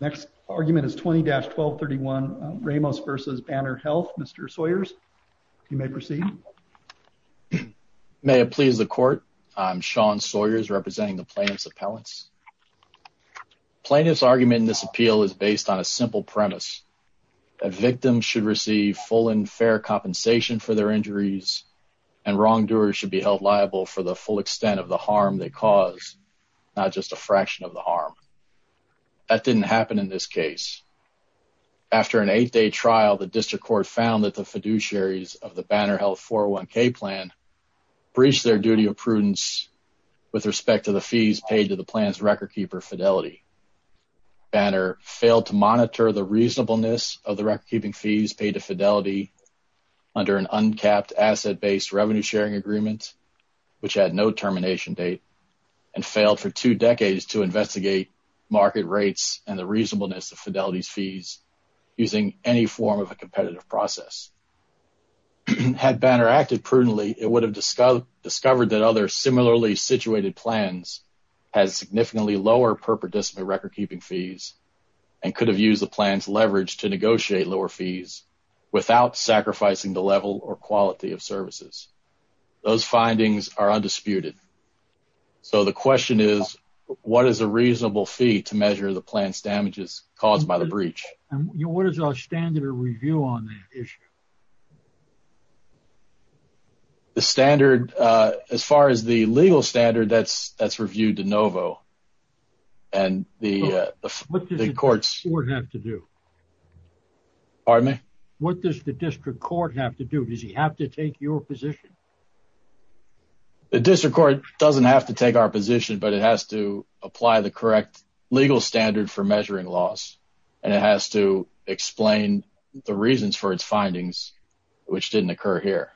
Next argument is 20-1231 Ramos v. Banner Health. Mr. Sawyers, you may proceed. May it please the court, I'm Sean Sawyers representing the Plaintiff's Appellants. Plaintiff's argument in this appeal is based on a simple premise, that victims should receive full and fair compensation for their injuries, and wrongdoers should be held liable for the full extent of the harm they cause, not just a fraction of the harm. That didn't happen in this case. After an eight-day trial, the District Court found that the fiduciaries of the Banner Health 401k plan breached their duty of prudence with respect to the fees paid to the plan's record-keeper Fidelity. Banner failed to monitor the reasonableness of the record-keeping fees paid to Fidelity under an uncapped asset-based revenue-sharing agreement, which had no termination date, and failed for two decades to investigate market rates and the reasonableness of Fidelity's fees using any form of a competitive process. Had Banner acted prudently, it would have discovered that other similarly-situated plans had significantly lower per-perdicimate record-keeping fees and could have used the plan's leverage to negotiate lower fees without sacrificing the level or quality of services. Those findings are undisputed. So, the question is, what is a reasonable fee to measure the plan's damages caused by the breach? What is our standard of review on that issue? The standard, as far as the legal standard, that's reviewed de novo, and the courts... What does the District Court have to do? Pardon me? What does the District Court have to do? Does he have to take your position? The District Court doesn't have to take our position, but it has to apply the correct legal standard for measuring loss, and it has to explain the reasons for its findings, which didn't occur here.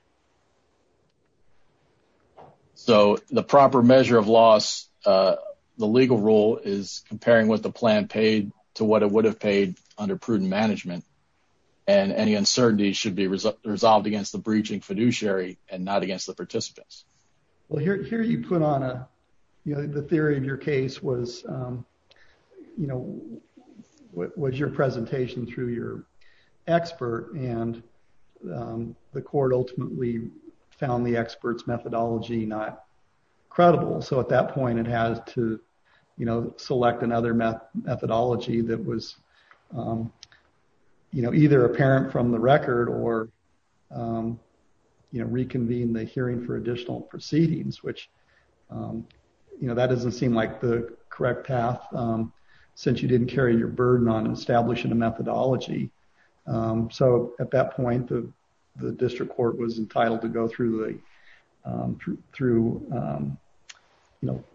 So, the proper measure of loss, the legal rule is comparing what the plan paid to what it would have paid under prudent management, and any uncertainty should be resolved against the breaching fiduciary and not against the participants. Well, here you put on a... The theory of your case was your presentation through your expert, and the court ultimately found the expert's methodology not credible. So, at that point, it has to select another methodology that was either apparent from the record or reconvene the hearing for additional proceedings, which that doesn't seem like the correct path since you didn't carry your burden on establishing a methodology. So, at that point, the District Court was entitled to go through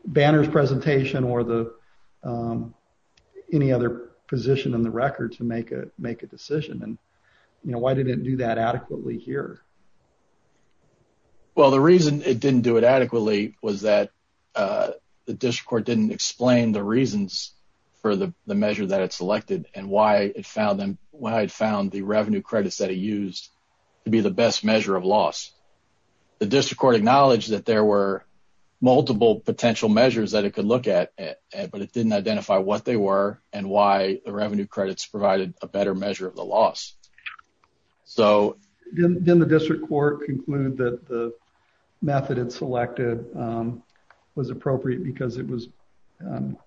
Banner's presentation or any other position in the record to make a decision, and why didn't it do that adequately here? Well, the reason it didn't do it adequately was that the District Court didn't explain the reasons for the measure that it selected and why it found the revenue credits that it used to be the best measure of loss. The District Court acknowledged that there were multiple potential measures that it could look at, but it didn't identify what they were and why the revenue credits provided a better measure of the loss. So, didn't the District Court conclude that the method it selected was appropriate because it was,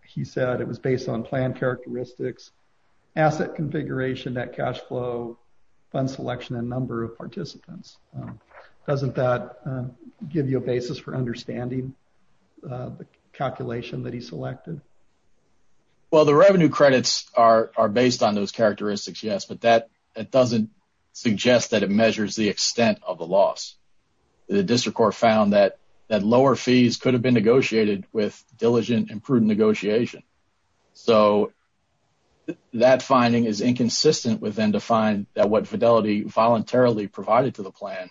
he said, it was based on plan characteristics, asset configuration, net cash flow, fund selection, and number of participants? Doesn't that give you a basis for understanding the calculation that he selected? Well, the revenue credits are based on those characteristics, yes, but that doesn't suggest that it measures the extent of the loss. The District Court found that lower fees could have been negotiated with diligent and prudent negotiation. So, that finding is inconsistent with them to find that what Fidelity voluntarily provided to the plan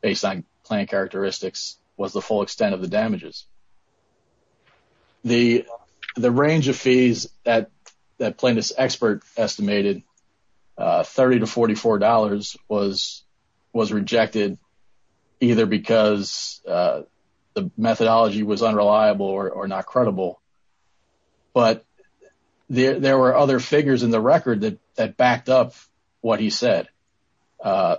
based on plan characteristics was the full extent of the damages. The range of fees that the methodology was unreliable or not credible, but there were other figures in the record that backed up what he said,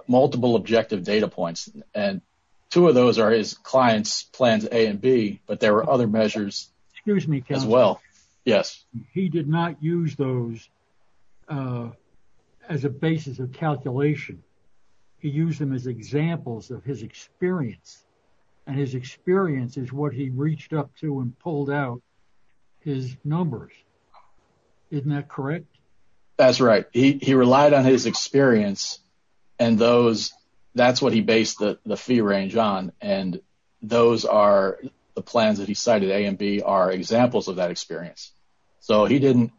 multiple objective data points, and two of those are his client's plans A and B, but there were other measures as well. He did not use those as a basis of calculation. He used them as examples of his experience, and his experience is what he reached up to and pulled out his numbers. Isn't that correct? That's right. He relied on his experience, and that's what he based the fee range on, and those are the plans that he cited A and B are examples of that experience. So, he didn't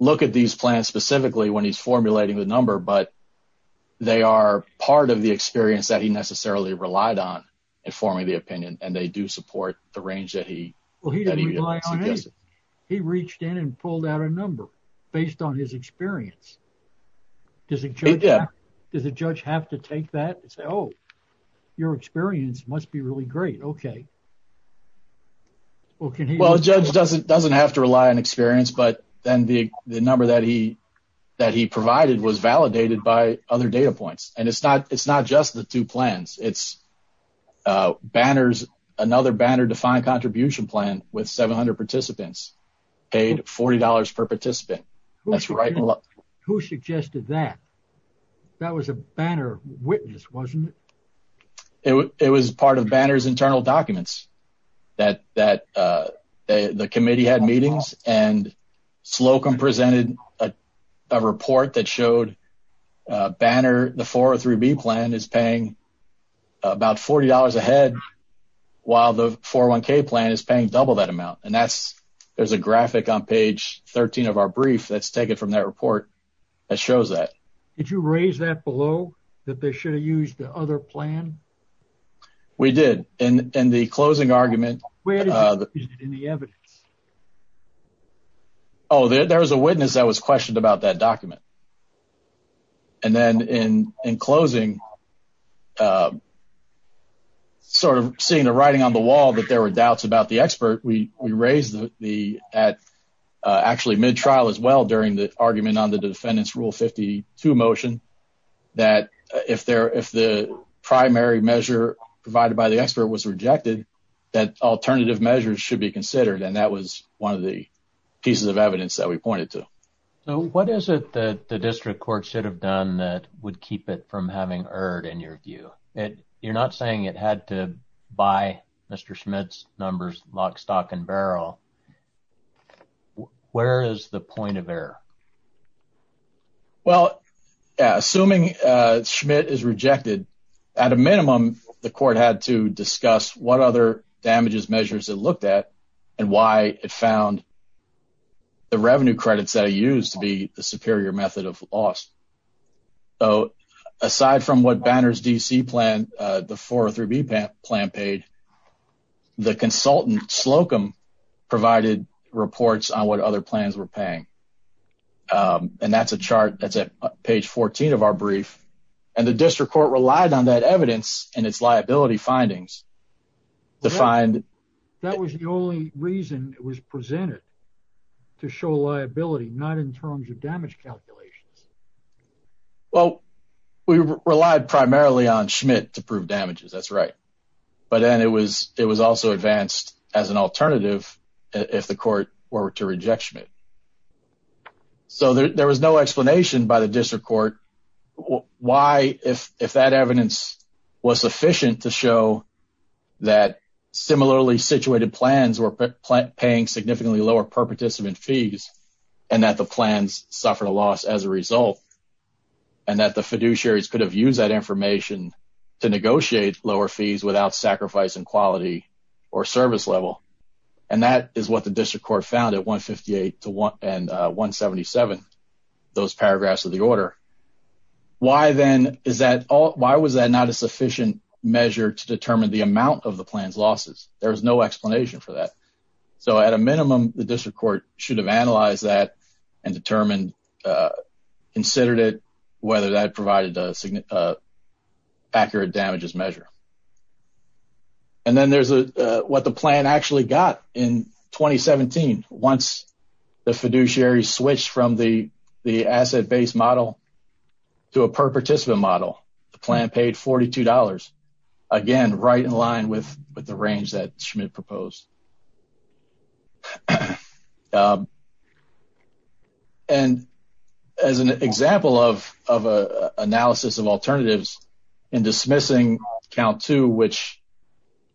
look at these plans specifically when he's formulating the number, but they are part of the experience that he necessarily relied on in forming the opinion, and they do support the range that he suggested. He reached in and pulled out a number based on his experience. Does a judge have to take that and say, oh, your experience must be really great. Okay. Well, a judge doesn't have to rely on experience, but then the number that he provided was validated by other data points, and it's not just the two plans. It's another Banner-defined contribution plan with 700 participants paid $40 per participant. Who suggested that? That was a Banner witness, wasn't it? It was part of Banner's internal documents that the committee had meetings, and Slocum presented a report that showed Banner, the 403B plan is paying about $40 a head, while the 401k plan is paying double that amount, and there's a graphic on page 13 of our brief that's taken from that report that shows that. Did you raise that below that they should have used the other plan? We did. In the closing argument... Where did you use it in the evidence? Oh, there was a witness that was questioned about that document, and then in closing, sort of seeing the writing on the wall that there were doubts about the expert, we raised actually mid-trial as well during the argument on the defendant's Rule 52 motion that if the primary measure provided by the expert was rejected, that alternative measures should be considered, and that was one of the pieces of evidence that we pointed to. What is it that the district court should have done that would keep it from having erred in your view? You're not saying it had to buy Mr. Schmidt's numbers lock, stock, and barrel. Where is the point of error? Well, assuming Schmidt is rejected, at a minimum, the court had to discuss what other damages measures it looked at and why it found the revenue credits that are used to be the superior method of loss. So, aside from what Banner's DC plan, the 403B plan paid, the consultant, Slocum, provided reports on what other plans were paying, and that's a chart that's at page 14 of our brief, and the district court relied on that evidence and its liability findings to find... That was the only reason it was presented, to show liability, not in terms of damage calculations. Well, we relied primarily on Schmidt to prove damages, that's right, but then it was also advanced as an alternative if the court were to reject Schmidt. So, there was no explanation by the district court why, if that evidence was sufficient to show that similarly situated plans were paying significantly lower purported fees, and that the plans suffered a loss as a result, and that the fiduciaries could have used that information to negotiate lower fees without sacrificing quality or service level, and that is what the district court found at 158 and 177, those paragraphs of the order. Why was that not a sufficient measure to determine the amount of the plan's losses? There was no explanation for that. So, at a minimum, the district court should have analyzed that and determined, considered it, whether that provided an accurate damages measure. And then there's what the plan actually got in 2017. Once the fiduciary switched from the asset-based model to a per-participant model, the plan paid $42, again, right in line with the range that Schmidt proposed. And as an example of an analysis of alternatives, in dismissing count two, which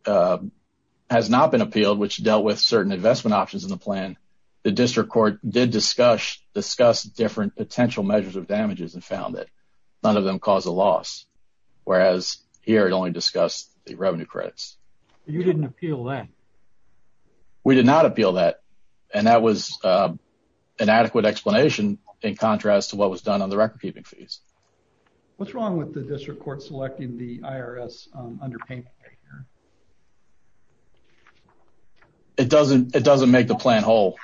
has not been appealed, which dealt with certain investment options in the plan, the district court did discuss different potential measures of damages and found that none of them caused a loss, whereas here it only discussed the revenue credits. You didn't appeal that? We did not appeal that, and that was an adequate explanation in contrast to what was done on the record-keeping fees. What's wrong with the district court selecting the IRS underpayment measure? It doesn't make the plan whole.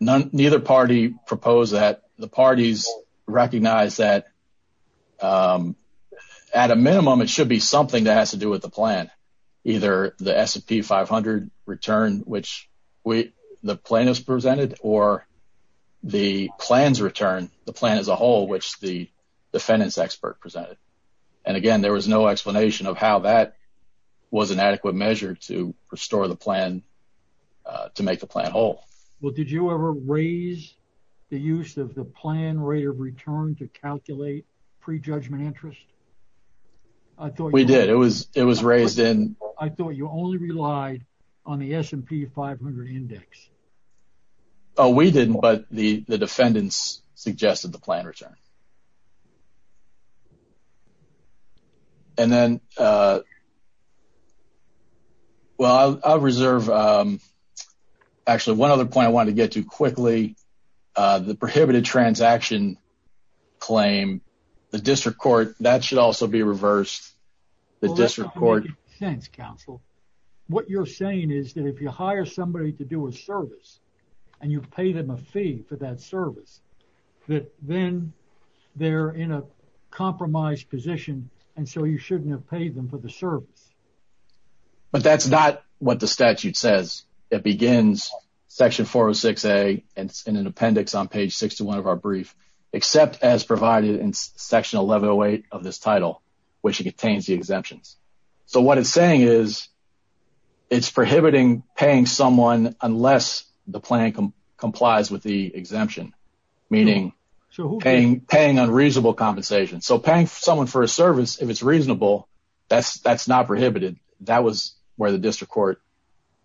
Neither party proposed that. The parties recognized that at a minimum, it should be something that has to do with the plan, either the S&P 500 return, which the plaintiffs presented, or the plan's return, the plan as a whole, which the defendants expert presented. And again, there was no explanation of how that was an adequate measure to restore the plan, to make the plan whole. Well, did you ever raise the use of the plan rate of return to calculate pre-judgment interest? We did. It was raised in... I thought you only relied on the S&P 500 index. Oh, we didn't, but the defendants suggested the plan return. Okay. And then, well, I'll reserve... Actually, one other point I wanted to get to quickly, the prohibited transaction claim, the district court, that should also be reversed. The district court... Well, that's not making sense, counsel. What you're saying is that if you hire somebody to do a service, and you pay them a fee for that service, that then they're in a compromised position, and so you shouldn't have paid them for the service. But that's not what the statute says. It begins section 406A, and it's in an appendix on page 61 of our brief, except as provided in section 1108 of this title, which contains the exemptions. So what it's saying is it's prohibiting paying someone unless the plan complies with the exemption, meaning paying unreasonable compensation. So paying someone for a service, if it's reasonable, that's not prohibited. That was where the district court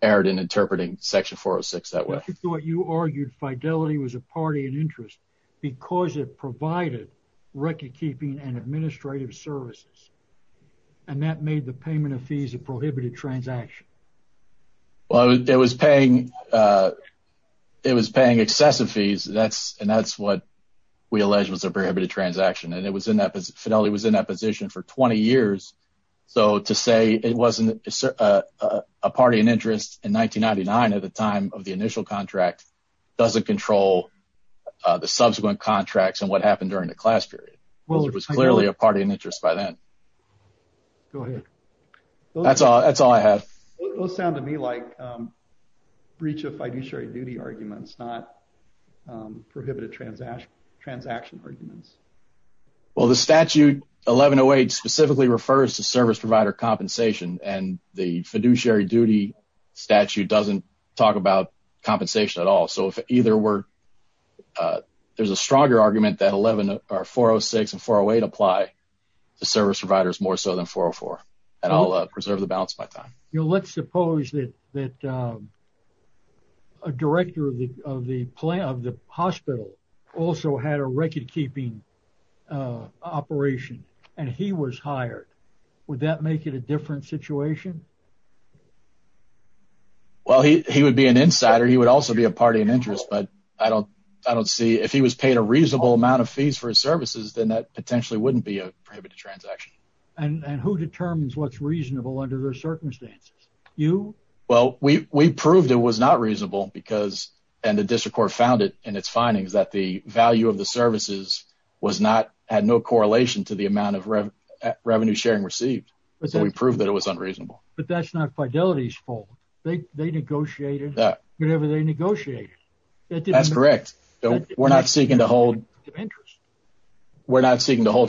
erred in interpreting section 406 that way. I thought you argued fidelity was a party in interest because it provided record keeping and administrative services, and that made the payment of fees a prohibited transaction. Well, it was paying excessive fees, and that's what we alleged was a prohibited transaction, and fidelity was in that position for 20 years. So to say it wasn't a party in interest in 1999 at the time of the initial contract doesn't control the subsequent contracts and what happened during the class period. It was clearly a party in interest by then. Go ahead. That's all I have. Those sound to me like breach of fiduciary duty arguments, not prohibited transaction arguments. Well, the statute 1108 specifically refers to service provider compensation, and the fiduciary duty statute doesn't talk about compensation at all. So there's a stronger argument that 406 and 408 apply to service providers more so than 404, and I'll preserve the balance of my time. Let's suppose that a director of the hospital also had a record keeping operation, and he was hired. Would that make it a different situation? Well, he would be an insider. He would also be a party in interest, but I don't see. If he was paid a reasonable amount of fees for his services, then that potentially wouldn't be a prohibited transaction. And who determines what's reasonable under those circumstances? You? Well, we proved it was not reasonable, and the district court found it in its findings that the had no correlation to the amount of revenue sharing received, so we proved that it was unreasonable. But that's not Fidelity's fault. They negotiated whatever they negotiated. That's correct. We're not seeking to hold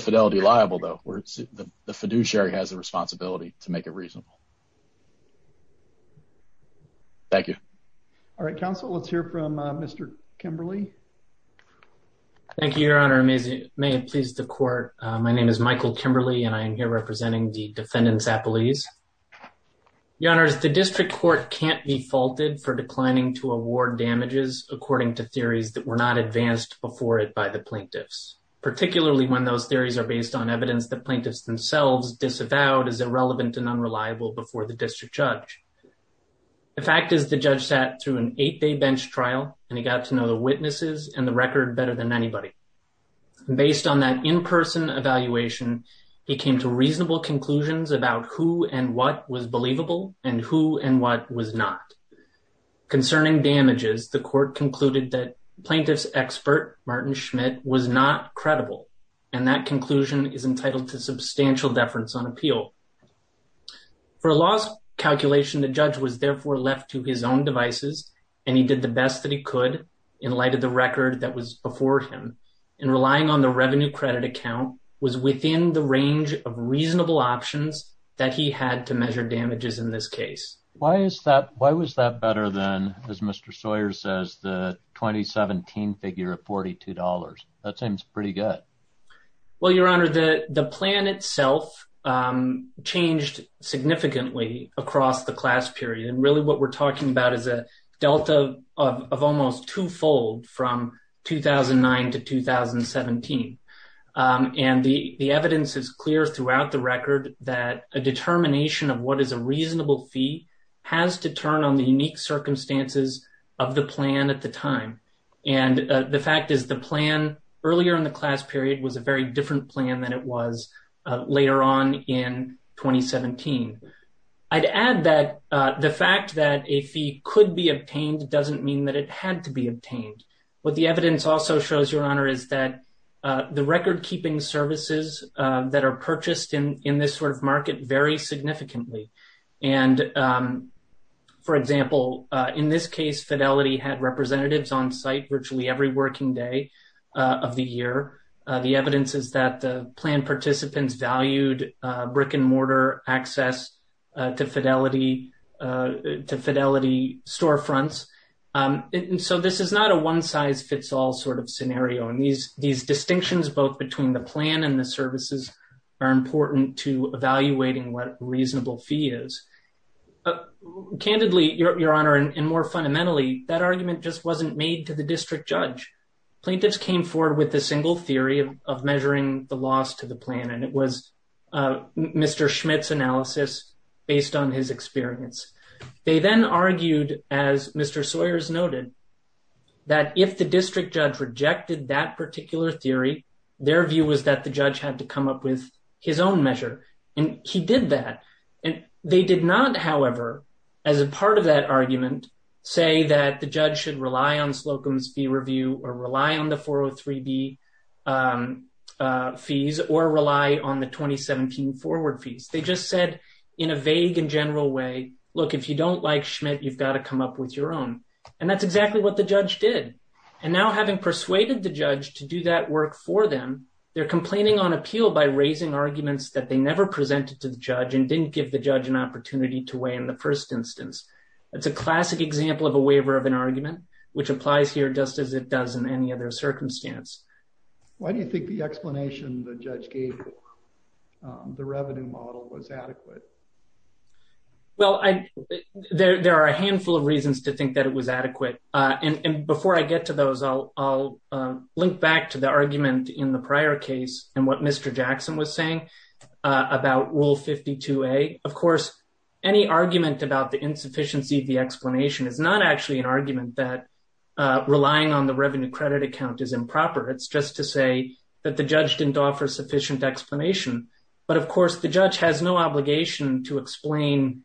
Fidelity liable, though. The fiduciary has the responsibility to make it reasonable. Thank you. All right, counsel, let's hear from Mr. Kimberley. Thank you, Your Honor. May it please the court. My name is Michael Kimberley, and I am here representing the defendants' appellees. Your Honors, the district court can't be faulted for declining to award damages according to theories that were not advanced before it by the plaintiffs, particularly when those theories are based on evidence the plaintiffs themselves disavowed as irrelevant and unreliable before the district judge. The fact is the judge sat through an eight-day bench trial, and he got to know the witnesses and the record better than anybody. Based on that in-person evaluation, he came to reasonable conclusions about who and what was believable and who and what was not. Concerning damages, the court concluded that plaintiff's expert, Martin Schmidt, was not credible, and that conclusion is entitled to substantial deference on appeal. For a law's calculation, the judge was therefore left to his own devices, and he did the best that he could in light of the record that was before him, and relying on the revenue credit account was within the range of reasonable options that he had to measure damages in this case. Why was that better than, as Mr. Sawyer says, the 2017 figure of $42? That seems pretty good. Well, Your Honor, the plan itself changed significantly across the class period, and really what we're talking about is a delta of almost twofold from 2009 to 2017, and the evidence is clear throughout the record that a determination of what is a reasonable fee has to turn on the unique circumstances of the plan at the time, and the fact is the plan earlier in the class period was a very different plan than it was later on in 2017. I'd add that the fact that a fee could be obtained doesn't mean that it had to be obtained. What the evidence also shows, Your Honor, is that the record-keeping services that are purchased in this sort of market vary significantly, and, for example, in this case, Fidelity had representatives on site virtually every working day of the year. The evidence is that the plan participants valued brick-and-mortar access to Fidelity storefronts, and so this is not a one-size-fits-all sort of scenario, and these distinctions both between the plan and the services are important to evaluating what a reasonable fee is. Candidly, Your Honor, and more fundamentally, that argument just wasn't made to the district judge. Plaintiffs came forward with a single theory of measuring the loss to the plan, and it was Mr. Schmidt's analysis based on his experience. They then argued, as Mr. Sawyers noted, that if the district judge rejected that particular theory, their view was that the judge had to come up with his own measure, and he did that, and they did not, however, as a part of that fee review or rely on the 403B fees or rely on the 2017 forward fees. They just said in a vague and general way, look, if you don't like Schmidt, you've got to come up with your own, and that's exactly what the judge did, and now having persuaded the judge to do that work for them, they're complaining on appeal by raising arguments that they never presented to the judge and didn't give the judge an opportunity to weigh in the first instance. It's a classic example of a waiver of an argument, which applies here just as it does in any other circumstance. Why do you think the explanation the judge gave the revenue model was adequate? Well, there are a handful of reasons to think that it was adequate, and before I get to those, I'll link back to the argument in the prior case and what Mr. Jackson was saying about Rule 52A. Of course, any argument about the insufficiency of the explanation is not actually an argument that relying on the revenue credit account is improper. It's just to say that the judge didn't offer sufficient explanation, but of course the judge has no obligation to explain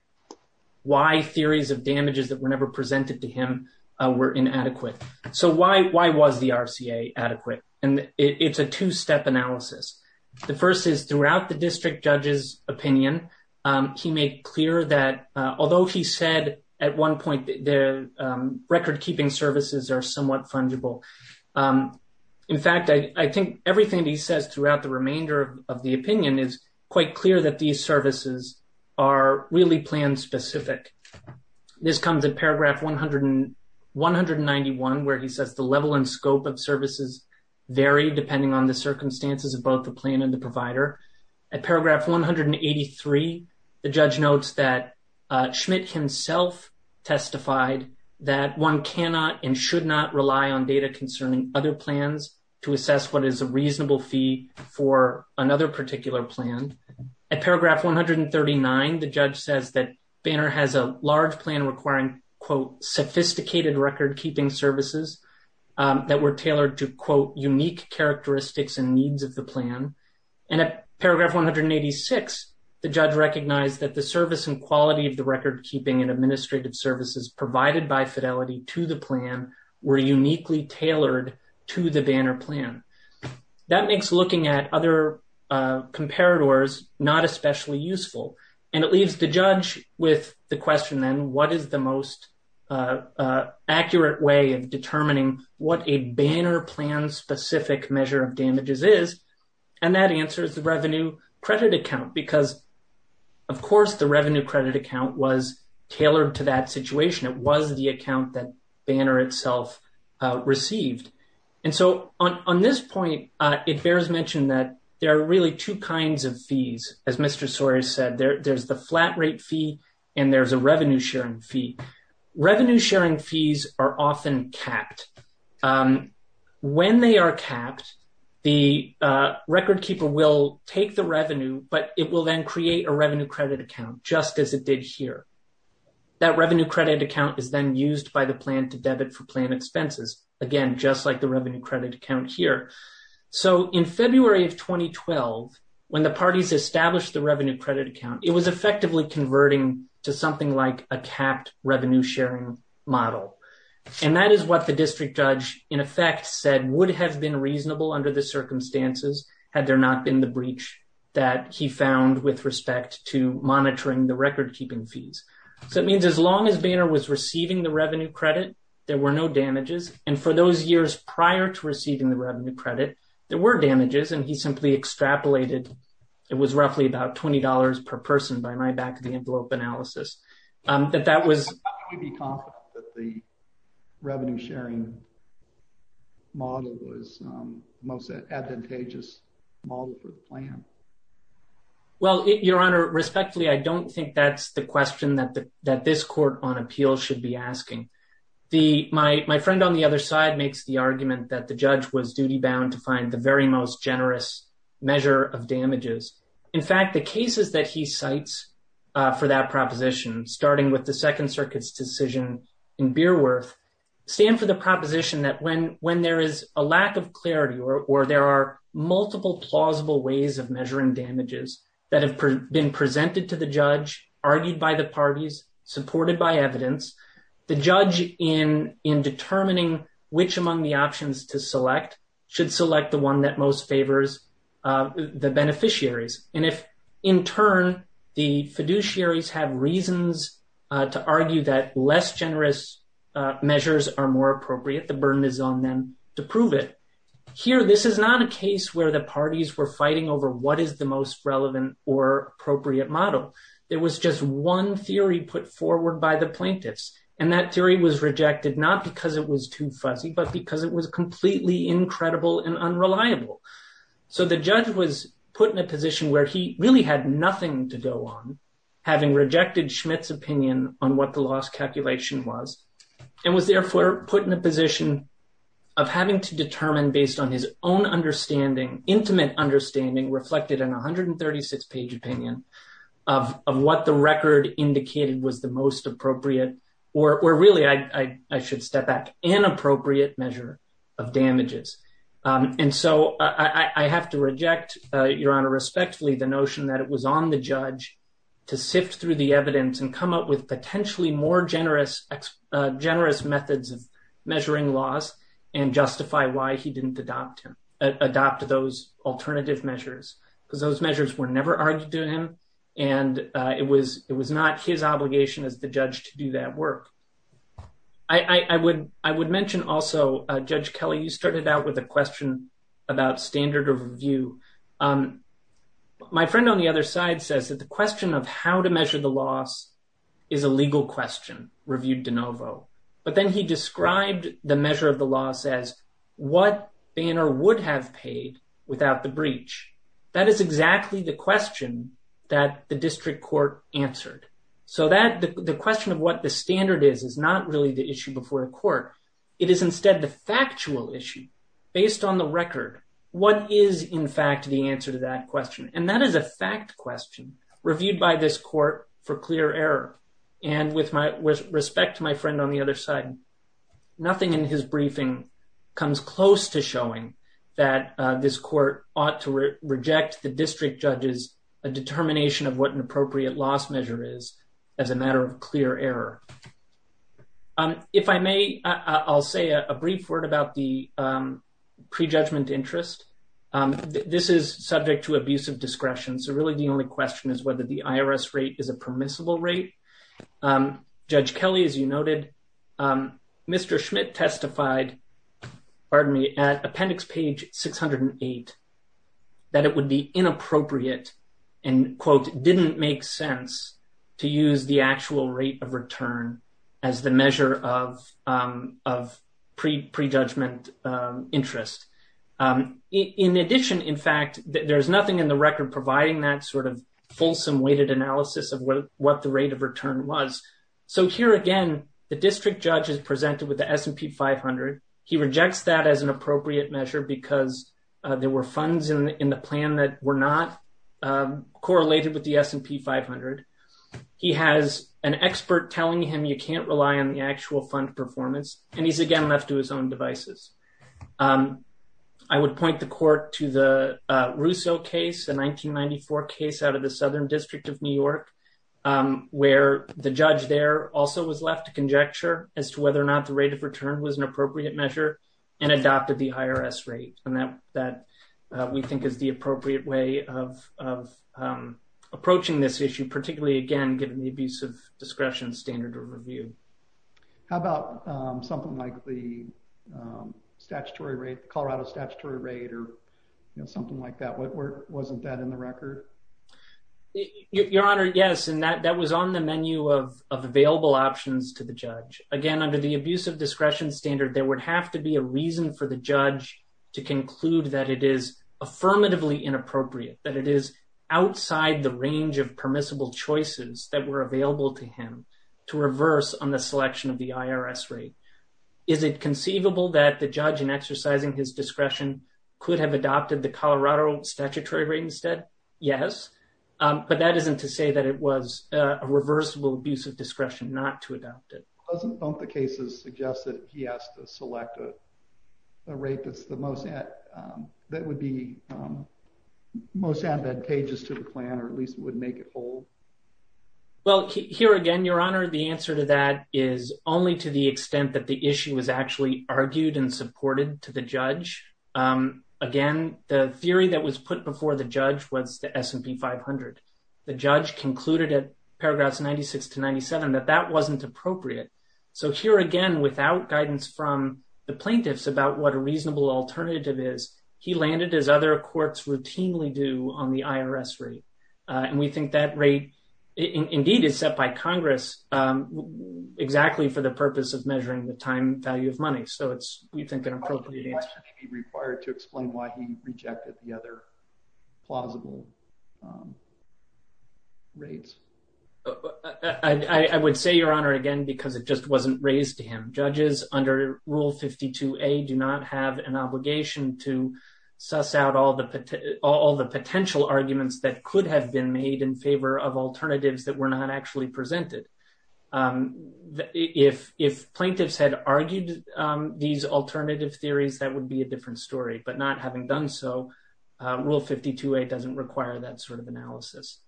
why theories of damages that were never presented to him were inadequate. So why was the RCA adequate? And it's a two-step analysis. The first is throughout the district judge's opinion, he made clear that although he said at one point the record-keeping services are somewhat fungible. In fact, I think everything he says throughout the remainder of the opinion is quite clear that these services are really plan-specific. This comes in paragraph 191, where he says the level and scope of services vary depending on the circumstances of both the plan and the provider. At paragraph 183, the judge notes that Schmidt himself testified that one cannot and should not rely on data concerning other plans to assess what is a reasonable fee for another particular plan. At paragraph 139, the judge says that Banner has a large plan requiring, quote, sophisticated record-keeping services that were tailored to, quote, unique characteristics and needs of the plan. And at paragraph 186, the judge recognized that the service and quality of the record-keeping and administrative services provided by Fidelity to the plan were uniquely tailored to the Banner plan. That makes looking at other comparators not especially useful, and it leaves the judge with the question then, what is the most accurate way of determining what a Banner plan-specific measure of damages is? And that answer is the revenue credit account, because, of course, the revenue credit account was tailored to that situation. It was the account that Banner itself received. And so, on this point, it bears mention that there are really two kinds of fees, as Mr. Soares said. There's the flat rate fee, and there's a revenue-sharing fee. Revenue-sharing fees are often capped. When they are capped, the record-keeper will take the revenue, but it will then create a revenue credit account, just as it did here. That revenue credit account is then used by the plan to debit for plan expenses, again, just like the revenue credit account here. So, in February of 2012, when the parties established the revenue credit account, it was effectively converting to something like a capped revenue-sharing model. And that is what the district judge, in effect, said would have been reasonable under the circumstances, had there not been the breach that he found with respect to monitoring the record-keeping fees. So, it means, as long as Banner was receiving the revenue credit, there were no damages. And for those years prior to receiving the revenue credit, there were damages, and he simply extrapolated. It was roughly about $20 per person, by my back of the envelope analysis. But that was... How can we be confident that the revenue-sharing model was the most advantageous model for the plan? Well, Your Honor, respectfully, I don't think that's the question that this Court on Appeal should be asking. My friend on the other side makes the argument that the judge was duty-bound to find the very most generous measure of damages. In fact, the cases that he cites for that proposition, starting with the Second Circuit's decision in Beerworth, stand for the proposition that when there is a lack of clarity or there are multiple plausible ways of measuring damages that have been presented to the judge, argued by the parties, supported by evidence, the judge, in determining which among the options to select, should select the one that most favors the beneficiaries. And if, in turn, the fiduciaries have reasons to argue that less generous measures are more appropriate, the burden is on them to prove it. Here, this is not a case where the parties were fighting over what is the most relevant or appropriate model. There was just one theory put forward by the plaintiffs, and that theory was rejected not because it was too fuzzy, but because it was completely incredible and unreliable. So the judge was put in a position where he really had nothing to go on, having rejected Schmitt's opinion on what the loss calculation was, and was therefore put in a position of having to determine, based on his own understanding, intimate understanding, reflected in a 136-page opinion, of what the record indicated was the most appropriate, or really, I should step back, inappropriate measure of damages. And so I have to reject, Your Honor, respectfully, the notion that it was on the judge to sift through the evidence and come up with potentially more generous methods of adopt those alternative measures, because those measures were never argued to him, and it was not his obligation as the judge to do that work. I would mention also, Judge Kelley, you started out with a question about standard of review. My friend on the other side says that the question of how to measure the loss is a legal question, reviewed de novo, but then he described the measure of the loss as what Banner would have paid without the breach. That is exactly the question that the district court answered. So the question of what the standard is is not really the issue before a court. It is instead the factual issue, based on the record. What is, in fact, the answer to that question? And that is a fact question, reviewed by this court for clear error. And with respect to my friend on the other side, nothing in his briefing comes close to showing that this court ought to reject the district judge's determination of what an appropriate loss measure is as a matter of clear error. If I may, I'll say a brief word about the prejudgment interest. This is subject to discretion. So really the only question is whether the IRS rate is a permissible rate. Judge Kelley, as you noted, Mr. Schmidt testified, pardon me, at appendix page 608, that it would be inappropriate and, quote, didn't make sense to use the actual rate of return as the measure of prejudgment interest. In addition, in fact, there's nothing in the record providing that sort of fulsome weighted analysis of what the rate of return was. So here again, the district judge is presented with the S&P 500. He rejects that as an appropriate measure because there were funds in the plan that were not correlated with the S&P 500. He has an expert telling him you can't rely on the actual fund performance, and he's again left to his own devices. I would point the court to the Russo case, a 1994 case out of the Southern District of New York, where the judge there also was left to conjecture as to whether or not the rate of return was an appropriate measure and adopted the IRS rate, and that we think is the appropriate way of approaching this issue, particularly, again, given the abusive discretion standard of review. How about something like the Colorado statutory rate or something like that? Wasn't that in the record? Your Honor, yes, and that was on the menu of available options to the judge. Again, the abuse of discretion standard, there would have to be a reason for the judge to conclude that it is affirmatively inappropriate, that it is outside the range of permissible choices that were available to him to reverse on the selection of the IRS rate. Is it conceivable that the judge in exercising his discretion could have adopted the Colorado statutory rate instead? Yes, but that isn't to say that it was a reversible abuse of discretion not to adopt it. Don't the cases suggest that he has to select a rate that would be most advantageous to the plan or at least would make it hold? Well, here again, Your Honor, the answer to that is only to the extent that the issue was actually argued and supported to the judge. Again, the theory that was put before the judge was the S&P 500. The judge concluded at paragraphs 96 to 97 that that wasn't appropriate. So here again, without guidance from the plaintiffs about what a reasonable alternative is, he landed, as other courts routinely do, on the IRS rate. And we think that rate indeed is set by Congress exactly for the purpose of measuring the time value of money. So it's, we think, appropriate to explain why he rejected the other plausible rates. I would say, Your Honor, again, because it just wasn't raised to him. Judges under Rule 52a do not have an obligation to suss out all the potential arguments that could have been made in favor of alternatives that were not actually presented. If plaintiffs had argued these alternative theories, that would be a different story. But not having done so, Rule 52a doesn't require that sort of analysis.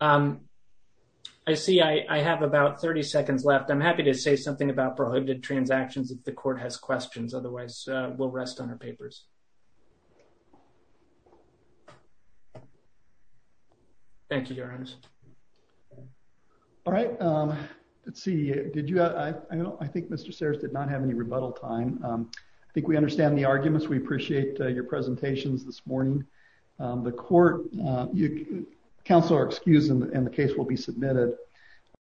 I see I have about 30 seconds left. I'm happy to say something about prohibited transactions if the court has questions. Otherwise, we'll rest on our papers. Thank you, Your Honor. All right. Let's see. Did you? I think Mr. Sears did not have any rebuttal time. I think we understand the arguments. We appreciate your presentations this morning. The court, counsel are excused and the case will be submitted.